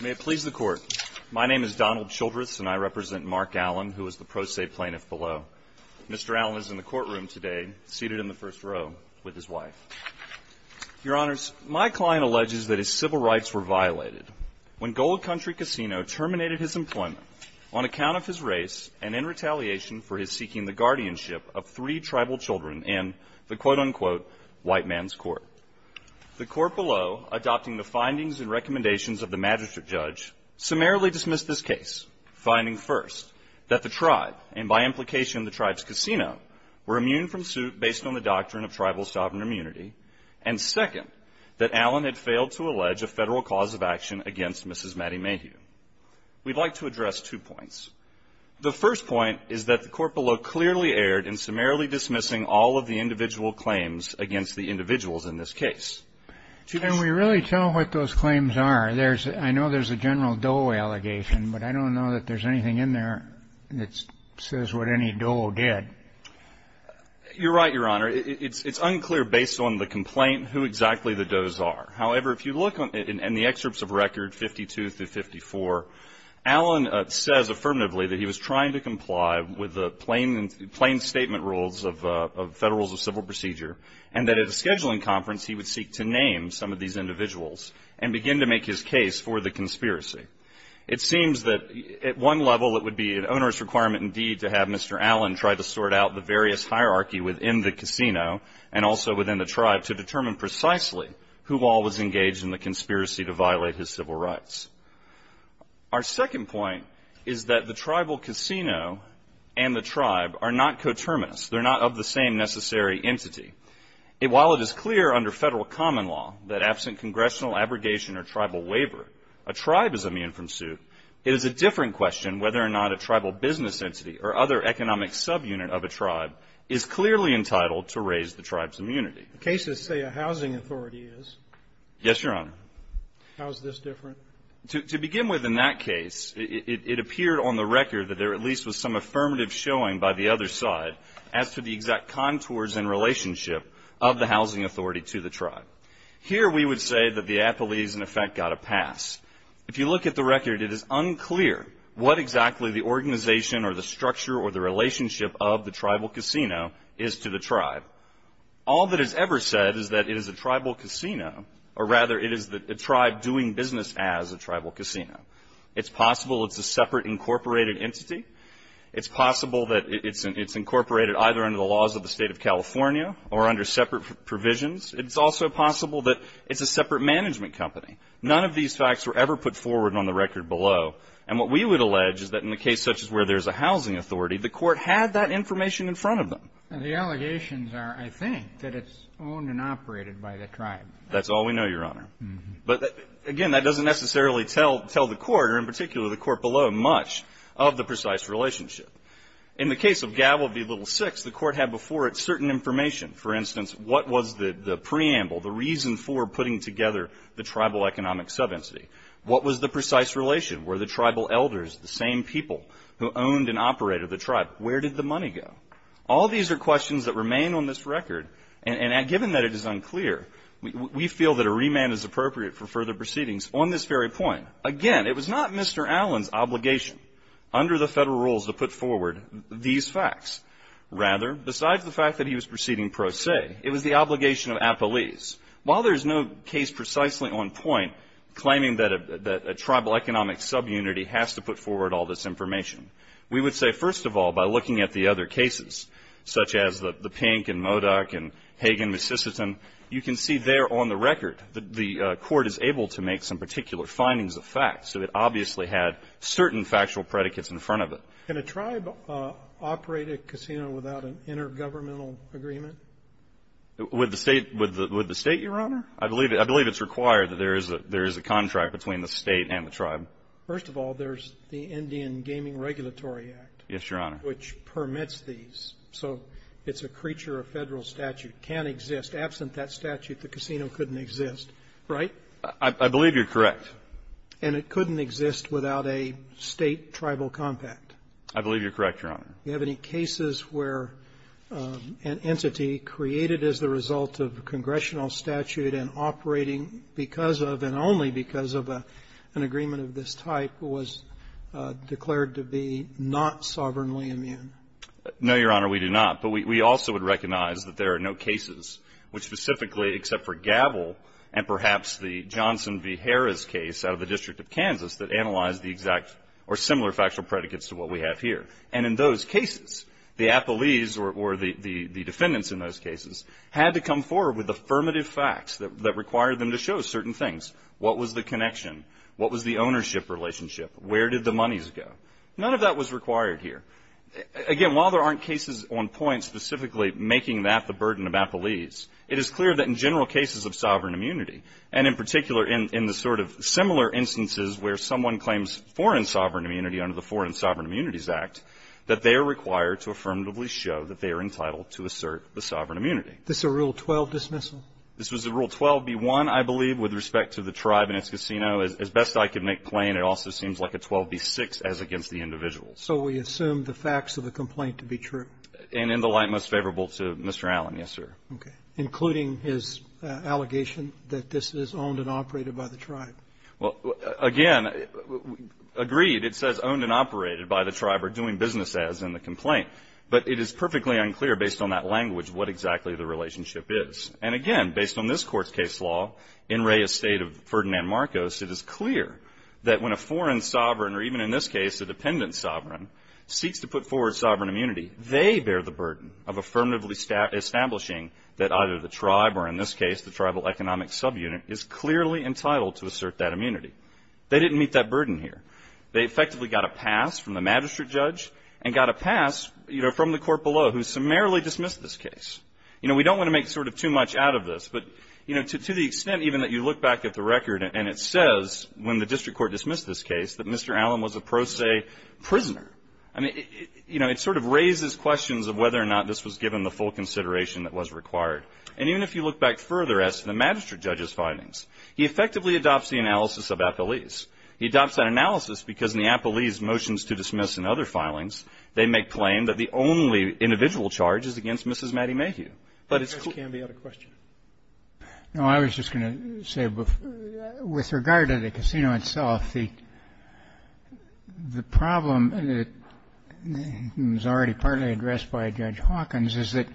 May it please the Court, my name is Donald Childress and I represent Mark Allen who is the pro se plaintiff below. Mr. Allen is in the courtroom today seated in the first row with his wife. Your Honors, my client alleges that his civil rights were violated when Gold Country Casino terminated his employment on account of his race and in retaliation for his seeking the guardianship of three tribal children in the quote-unquote white man's court. The court below, adopting the findings and recommendations of the magistrate judge, summarily dismissed this case, finding first that the tribe, and by implication the tribe's casino, were immune from suit based on the doctrine of tribal sovereign immunity, and second, that Allen had failed to allege a federal cause of action against Mrs. Maddie Mayhew. We'd like to address two points. The first point is that the court below clearly erred in summarily dismissing all of the individual claims against the individuals in this case. Can we really tell what those claims are? There's, I know there's a general Doe allegation, but I don't know that there's anything in there that says what any Doe did. You're right, Your Honor. It's unclear based on the complaint who exactly the Does are. However, if you look in the excerpts of record 52 through 54, Allen says affirmatively that he was trying to comply with the plain statement rules of Federal Rules of Civil Procedure, and that at a scheduling conference he would seek to name some of these individuals and begin to make his case for the conspiracy. It seems that at one level it would be an onerous requirement indeed to have Mr. Allen try to sort out the various hierarchy within the casino and also within the tribe to determine precisely who all was engaged in the conspiracy to violate his civil rights. Our second point is that the tribal casino and the tribe are not coterminous. They're not of the same necessary entity. While it is clear under Federal common law that absent congressional abrogation or tribal waiver, a tribe is immune from suit, it is a different question whether or not a tribal business entity or other economic subunit of a tribe is clearly entitled to raise the tribe's immunity. The cases say a housing authority is. Yes, Your Honor. How is this different? To begin with in that case, it appeared on the record that there at least was some affirmative showing by the other side as to the exact contours and relationship of the housing authority to the tribe. Here we would say that the apologies in effect got a pass. If you look at the record, it is unclear what exactly the organization or the structure or the relationship of the tribal casino is to the tribe. All that is ever said is that it is a tribal casino, or rather, it is the tribe doing business as a tribal casino. It's possible it's a separate incorporated entity. It's possible that it's incorporated either under the laws of the State of California or under separate provisions. It's also possible that it's a separate management company. None of these facts were ever put forward on the record below. And what we would allege is that in a case such as where there's a housing authority, the Court had that information in front of them. And the allegations are, I think, that it's owned and operated by the tribe. That's all we know, Your Honor. But again, that doesn't necessarily tell the Court, or in particular the Court below, much of the precise relationship. In the case of Gavil v. Little Six, the Court had before it certain information. For instance, what was the preamble, the reason for putting together the tribal economic subentity? What was the precise relation? Were the tribal elders the same people who owned and operated the tribe? Where did the money go? All these are questions that remain on this record. And given that it is unclear, we feel that a remand is appropriate for further proceedings. On this very point, again, it was not Mr. Allen's obligation under the Federal rules to put forward these facts. Rather, besides the fact that he was proceeding pro se, it was the obligation of Appalese. While there's no case precisely on point claiming that a tribal economic subunity has to put forward all this information, we would say, first of all, by looking at the other cases, such as the Pink and Modoc and Hagan v. Sisseton, you can see there on the record that the Court is able to make some particular findings of fact. So it obviously had certain factual predicates in front of it. Can a tribe operate a casino without an intergovernmental agreement? With the State, Your Honor? I believe it's required that there is a contract between the State and the tribe. First of all, there's the Indian Gaming Regulatory Act. Yes, Your Honor. Which permits these. So it's a creature of Federal statute, can exist. Absent that statute, the casino couldn't exist, right? I believe you're correct. And it couldn't exist without a State tribal compact? I believe you're correct, Your Honor. Do you have any cases where an entity created as the result of congressional statute and operating because of and only because of an agreement of this type was declared to be not sovereignly immune? No, Your Honor, we do not. But we also would recognize that there are no cases which specifically, except for Gabel and perhaps the Johnson v. Harris case out of the District of Kansas that analyzed the exact or similar factual predicates to what we have here. And in those cases, the appellees or the defendants in those cases had to come forward with affirmative facts that required them to show certain things. What was the connection? What was the ownership relationship? Where did the monies go? None of that was required here. Again, while there aren't cases on point specifically making that the burden of appellees, it is clear that in general cases of sovereign immunity, and in particular in the sort of similar instances where someone claims foreign sovereign immunity under the Foreign Sovereign Immunities Act, that they are required to affirmatively show that they are entitled to assert the sovereign immunity. Is this a Rule 12 dismissal? This was a Rule 12b-1, I believe, with respect to the tribe and its casino. As best I can make plain, it also seems like a 12b-6 as against the individual. So we assume the facts of the complaint to be true? And in the light most favorable to Mr. Allen, yes, sir. Okay. Including his allegation that this is owned and operated by the tribe. Well, again, agreed. It says owned and operated by the tribe or doing business as in the complaint. But it is perfectly unclear based on that language what exactly the relationship is. And again, based on this Court's case law, in Reyes State of Ferdinand Marcos, it is clear that when a foreign sovereign, or even in this case a dependent sovereign, seeks to put forward sovereign immunity, they bear the burden of affirmatively establishing that either the tribe or in this case the tribal economic subunit is clearly entitled to assert that immunity. They didn't meet that burden here. They effectively got a pass from the magistrate judge and got a pass from the court below, who summarily dismissed this case. We don't want to make sort of too much out of this. But, you know, to the extent even that you look back at the record and it says, when the district court dismissed this case, that Mr. Allen was a pro se prisoner. I mean, you know, it sort of raises questions of whether or not this was given the full consideration that was required. And even if you look back further as to the magistrate judge's findings, he effectively adopts the analysis of Appellee's. He adopts that analysis because in the Appellee's motions to dismiss and other filings, they make claim that the only individual charge is against Mrs. Maddie Mayhew. But it's- Can we have a question? No, I was just going to say, with regard to the casino itself, the problem, and it was already partly addressed by Judge Hawkins, is that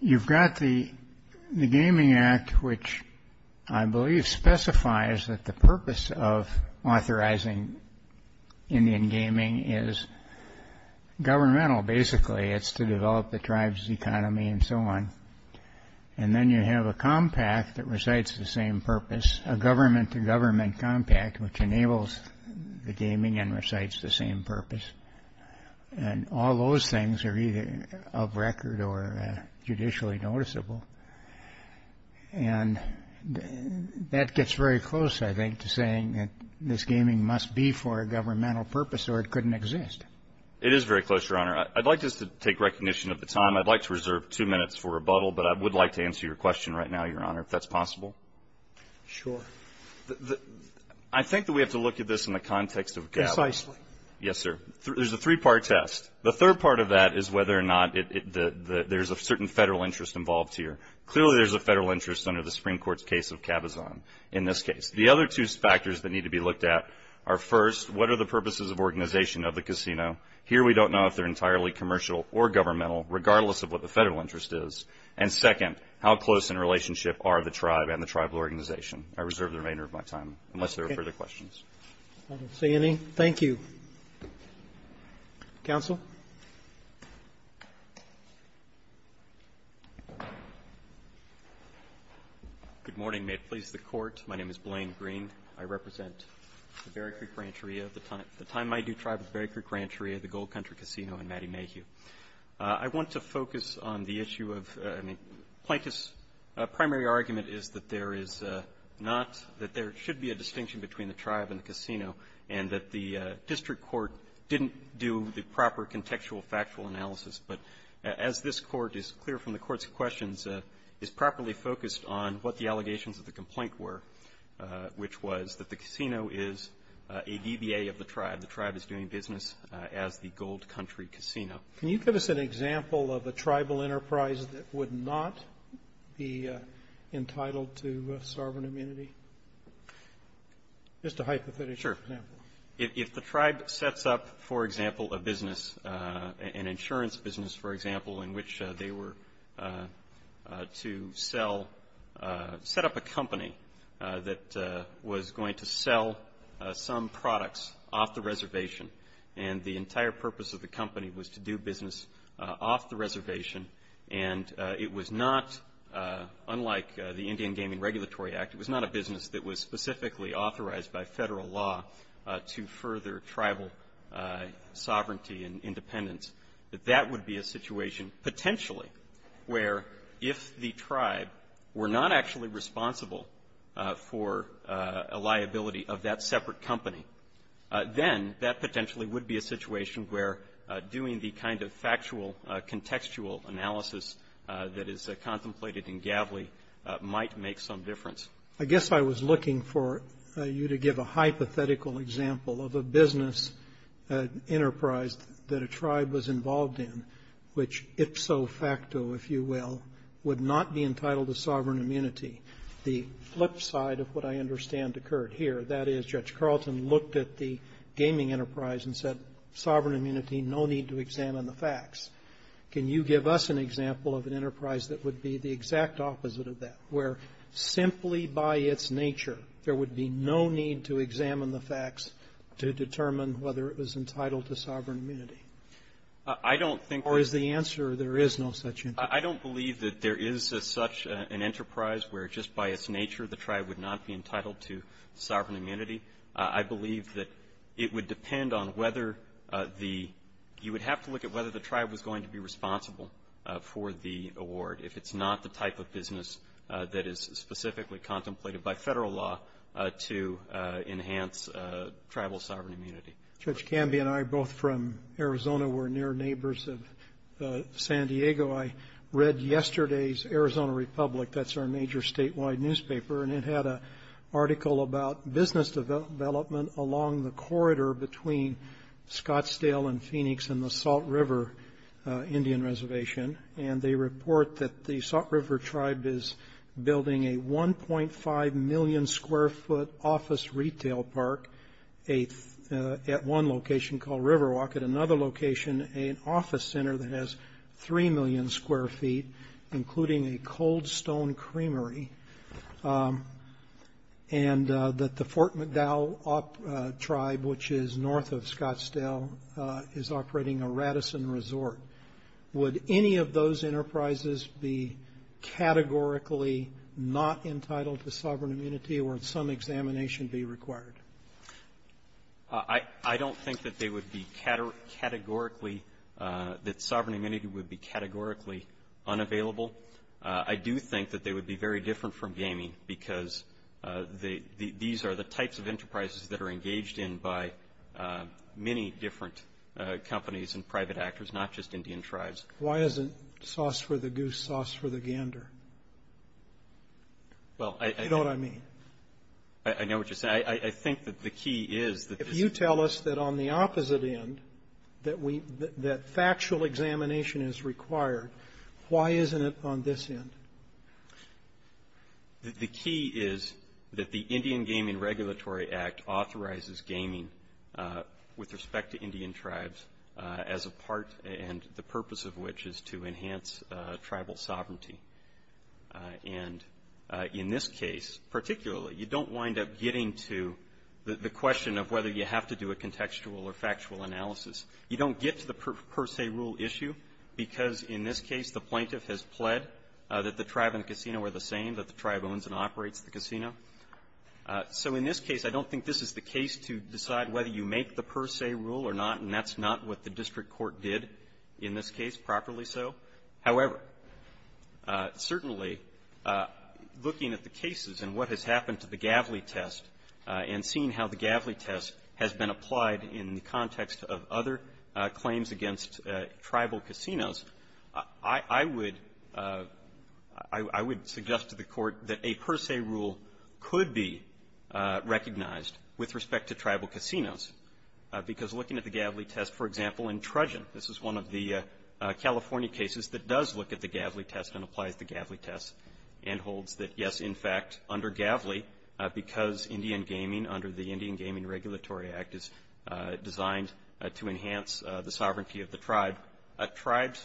you've got the Gaming Act, which I believe specifies that the purpose of authorizing Indian gaming is governmental, basically. It's to develop the tribe's economy and so on. And then you have a compact that recites the same purpose, a government-to-government compact, which enables the gaming and recites the same purpose. And all those things are either of record or judicially noticeable. And that gets very close, I think, to saying that this gaming must be for a governmental purpose or it couldn't exist. It is very close, Your Honor. I'd like just to take recognition of the time. I'd like to reserve two minutes for rebuttal, but I would like to answer your question right now, Your Honor, if that's possible. Sure. I think that we have to look at this in the context of- Precisely. Yes, sir. There's a three-part test. The third part of that is whether or not there's a certain federal interest involved here. Clearly, there's a federal interest under the Supreme Court's case of Cabazon, in this case. The other two factors that need to be looked at are, first, what are the purposes of organization of the casino? Here, we don't know if they're entirely commercial or governmental, regardless of what the federal interest is. And second, how close in relationship are the tribe and the tribal organization? I reserve the remainder of my time, unless there are further questions. I don't see any. Thank you. Counsel? Good morning. May it please the court. My name is Blaine Green. I represent the Berry Creek Rancheria. At the time, my due tribe was Berry Creek Rancheria, the Gold Country Casino, and Maddie Mayhew. I want to focus on the issue of Plaintiff's primary argument is that there is not, that there should be a distinction between the tribe and the casino, and that the district court didn't do the proper contextual factual analysis. But as this Court is clear from the Court's questions, it's properly focused on what the allegations of the complaint were, which was that the casino is a DBA of the tribe. The tribe is doing business as the Gold Country Casino. Can you give us an example of a tribal enterprise that would not be entitled to sovereign immunity? Just a hypothetical example. Sure. If the tribe sets up, for example, a business, an insurance business, for example, in which they were to sell, set up a company that was going to sell some products off the reservation. And the entire purpose of the company was to do business off the reservation. And it was not, unlike the Indian Gaming Regulatory Act, it was not a business that was specifically authorized by federal law to further tribal sovereignty and independence. That that would be a situation, potentially, where if the tribe were not actually responsible for a liability of that separate company, then that potentially would be a situation where doing the kind of factual contextual analysis that is contemplated in Gavley might make some difference. I guess I was looking for you to give a hypothetical example of a business enterprise that a tribe was involved in, which ipso facto, if you will, would not be entitled to sovereign immunity. The flip side of what I understand occurred here. That is, Judge Carlton looked at the gaming enterprise and said, sovereign immunity, no need to examine the facts. Can you give us an example of an enterprise that would be the exact opposite of that? Where simply by its nature, there would be no need to examine the facts to determine whether it was entitled to sovereign immunity? I don't think Or is the answer, there is no such enterprise? I don't believe that there is such an enterprise where just by its nature, the tribe would not be entitled to sovereign immunity. I believe that it would depend on whether the, you would have to look at whether the tribe was going to be responsible for the award. If it's not the type of business that is specifically contemplated by federal law to enhance tribal sovereign immunity. Judge Camby and I, both from Arizona, we're near neighbors of San Diego. I read yesterday's Arizona Republic, that's our major statewide newspaper, and it had a article about business development along the corridor between Scottsdale and Phoenix and the Salt River Indian Reservation. And they report that the Salt River tribe is building a 1.5 million square foot office retail park at one location called Riverwalk. At another location, an office center that has 3 million square feet, including a cold stone creamery. And that the Fort McDowell tribe, which is north of Scottsdale, is operating a Radisson resort. Would any of those enterprises be categorically not entitled to sovereign immunity or would some examination be required? I don't think that they would be categorically, that sovereign immunity would be categorically unavailable. I do think that they would be very different from gaming because these are the types of enterprises that are engaged in by many different companies and private actors, not just Indian tribes. Why isn't sauce for the goose, sauce for the gander? Well, I- You know what I mean. I know what you're saying. I think that the key is that- If you tell us that on the opposite end, that we, that factual examination is required, why isn't it on this end? The key is that the Indian Gaming Regulatory Act authorizes gaming with respect to Indian tribes as a part and the purpose of which is to enhance tribal sovereignty. And in this case, particularly, you don't wind up getting to the question of whether you have to do a contextual or factual analysis. You don't get to the per se rule issue because in this case, the plaintiff has pled that the tribe and the casino are the same, that the tribe owns and operates the casino. So in this case, I don't think this is the case to decide whether you make the per se rule or not, and that's not what the district court did in this case, properly so. However, certainly, looking at the cases and what has happened to the Gavley test and seeing how the Gavley test has been applied in the context of other claims against tribal casinos, I would suggest to the Court that a per se rule could be recognized with respect to tribal casinos, because looking at the Gavley test, for instance, it does look at the Gavley test and applies the Gavley test and holds that, yes, in fact, under Gavley, because Indian gaming under the Indian Gaming Regulatory Act is designed to enhance the sovereignty of the tribe,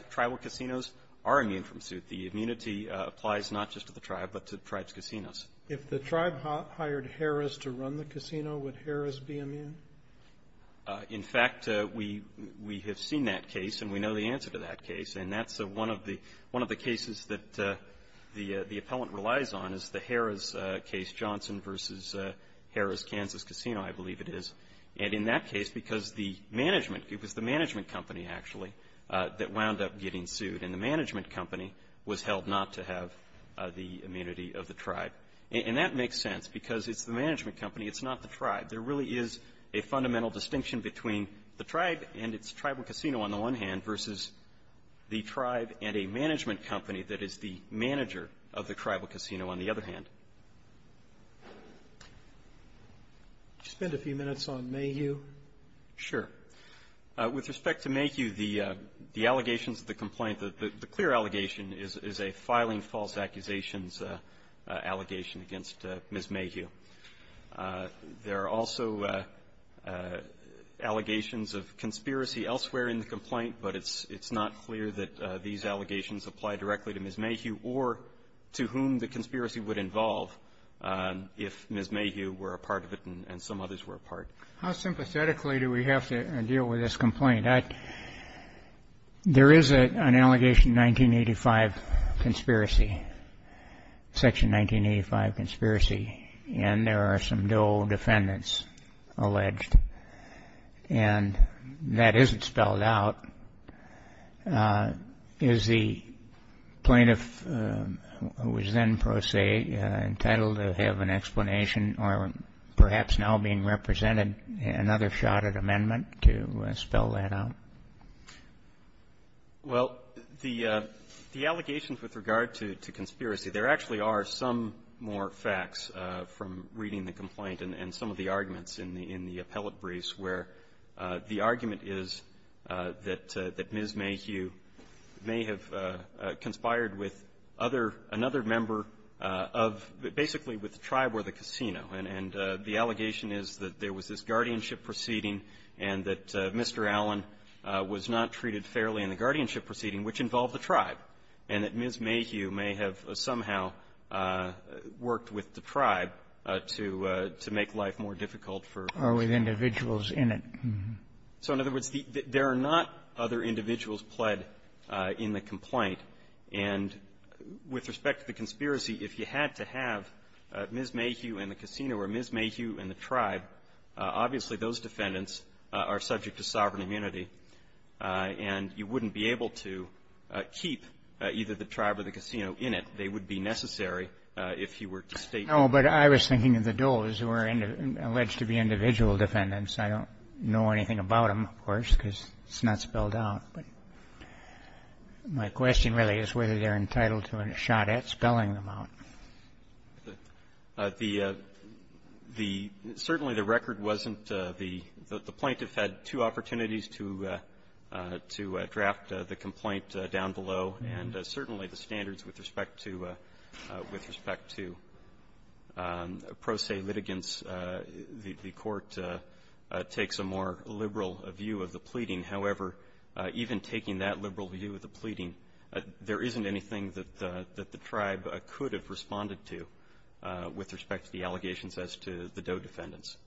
tribal casinos are immune from suit. The immunity applies not just to the tribe, but to the tribe's casinos. If the tribe hired Harris to run the casino, would Harris be immune? In fact, we have seen that case and we know the answer to that case, and that's one of the cases that the appellant relies on, is the Harris case, Johnson v. Harris Kansas Casino, I believe it is. And in that case, because the management, it was the management company, actually, that wound up getting sued, and the management company was held not to have the immunity of the tribe. And that makes sense, because it's the management company. It's not the tribe. There really is a fundamental distinction between the tribe and its tribal casino on the one hand, versus the tribe and a management company that is the manager of the tribal casino on the other hand. Did you spend a few minutes on Mayhew? Sure. With respect to Mayhew, the allegations of the complaint, the clear allegation is a filing false accusations allegation against Ms. Mayhew. There are also allegations of conspiracy elsewhere in the complaint, but it's not clear that these allegations apply directly to Ms. Mayhew or to whom the conspiracy would involve if Ms. Mayhew were a part of it and some others were a part. How sympathetically do we have to deal with this complaint? There is an allegation in 1985 conspiracy, Section 1985 conspiracy, in which the plaintiff is being held guilty of a conspiracy, and there are some dual defendants alleged, and that isn't spelled out. Is the plaintiff, who was then pro se, entitled to have an explanation or perhaps now being represented in another shot at amendment to spell that out? Well, the allegations with regard to conspiracy, there actually are some more facts from reading the complaint and some of the arguments in the appellate briefs where the argument is that Ms. Mayhew may have conspired with other, another member of, basically, with the tribe or the casino. And the allegation is that there was this guardianship proceeding and that Mr. Allen was not treated fairly in the guardianship proceeding, which involved the tribe, and that Ms. Mayhew may have somehow worked with the tribe to make life more difficult for her. Are we individuals in it? So, in other words, there are not other individuals pled in the complaint. And with respect to the conspiracy, if you had to have Ms. Mayhew and the casino or Ms. Mayhew and the tribe, obviously, those defendants are subject to sovereign either the tribe or the casino in it. They would be necessary if you were to state that. No, but I was thinking of the Doles, who are alleged to be individual defendants. I don't know anything about them, of course, because it's not spelled out. But my question really is whether they're entitled to a shot at spelling them out. The the certainly the record wasn't the the plaintiff had two opportunities to to draft the complaint down below. And certainly the standards with respect to with respect to pro se litigants, the court takes a more liberal view of the pleading. However, even taking that liberal view of the pleading, there isn't anything that the that the tribe could have responded to with respect to the allegations as to the Dole defendants.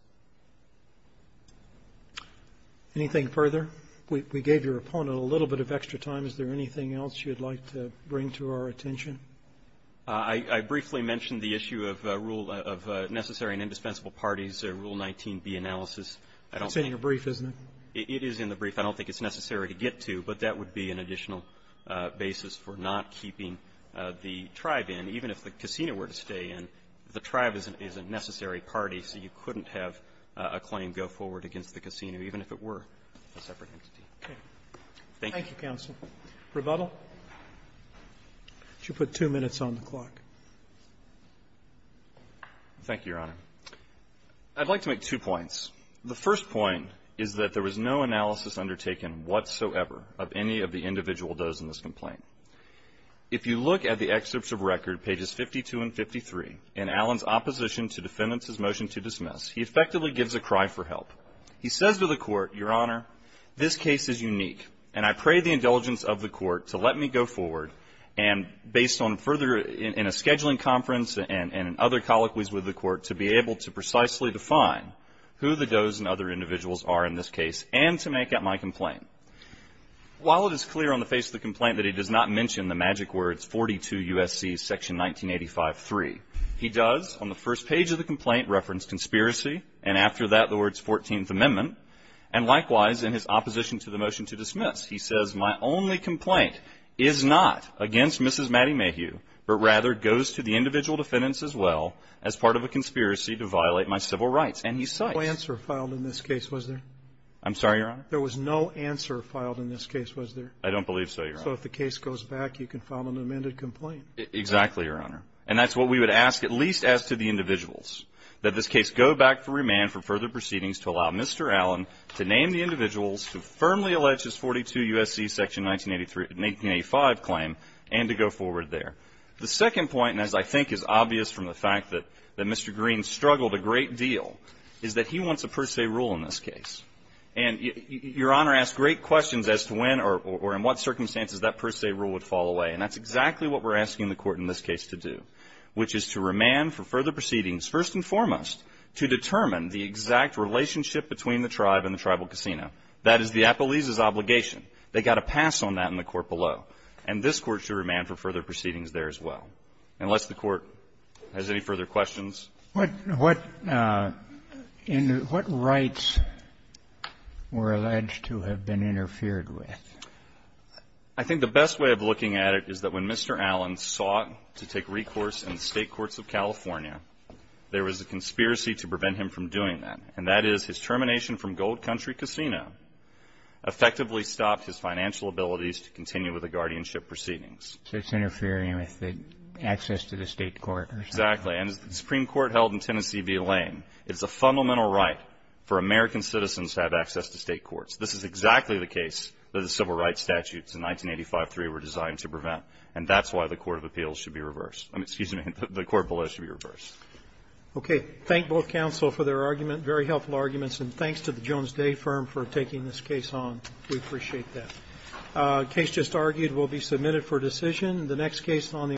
Anything further? We gave your opponent a little bit of extra time. Is there anything else you'd like to bring to our attention? I briefly mentioned the issue of rule of necessary and indispensable parties, Rule 19b analysis. It's in your brief, isn't it? It is in the brief. I don't think it's necessary to get to, but that would be an additional basis for not keeping the tribe in. Even if the casino were to stay in, the tribe is a necessary party, so you couldn't have a claim go forward against the casino, even if it were a separate entity. Okay. Thank you. Thank you, counsel. Rebuttal? You should put two minutes on the clock. Thank you, Your Honor. I'd like to make two points. The first point is that there was no analysis undertaken whatsoever of any of the individual does in this complaint. If you look at the excerpts of record, pages 52 and 53, in Allen's opposition to defendants' motion to dismiss, he effectively gives a cry for help. He says to the court, Your Honor, this case is unique, and I pray the indulgence of the court to let me go forward, and based on further in a scheduling conference and other colloquies with the court, to be able to precisely define who the does and other individuals are in this case and to make up my complaint. While it is clear on the face of the complaint that he does not mention the magic words 42 U.S.C. section 1985-3, he does on the first page of the complaint reference conspiracy, and after that the words 14th Amendment, and likewise in his opposition to the motion to dismiss. He says my only complaint is not against Mrs. Maddie Mayhew, but rather goes to the individual defendants as well as part of a conspiracy to violate my civil rights, and he cites. There was no answer filed in this case, was there? I'm sorry, Your Honor? There was no answer filed in this case, was there? I don't believe so, Your Honor. So if the case goes back, you can file an amended complaint. Exactly, Your Honor. And that's what we would ask, at least as to the individuals, that this case go back for remand for further proceedings to allow Mr. Allen to name the individuals who firmly allege his 42 U.S.C. section 1985 claim and to go forward there. The second point, and as I think is obvious from the fact that Mr. Green struggled a great deal, is that he wants a per se rule in this case. And Your Honor asked great questions as to when or in what circumstances that per se rule would fall away. And that's exactly what we're asking the Court in this case to do, which is to remand for further proceedings, first and foremost, to determine the exact relationship between the tribe and the tribal casino. That is the appellee's obligation. They've got to pass on that in the court below. And this Court should remand for further proceedings there as well. Unless the Court has any further questions. What rights were alleged to have been interfered with? I think the best way of looking at it is that when Mr. Allen sought to take recourse in the state courts of California, there was a conspiracy to prevent him from doing that. And that is his termination from Gold Country Casino effectively stopped his financial abilities to continue with the guardianship proceedings. So it's interfering with the access to the state court. Exactly. And as the Supreme Court held in Tennessee v. Lane, it's a fundamental right for American citizens to have access to state courts. This is exactly the case that the civil rights statutes in 1985-3 were designed to prevent. And that's why the Court of Appeals should be reversed. Excuse me. The Court below should be reversed. Okay. Thank both counsel for their argument. Very helpful arguments. And thanks to the Jones Day Firm for taking this case on. We appreciate that. The case just argued will be submitted for decision. The next case on the agenda.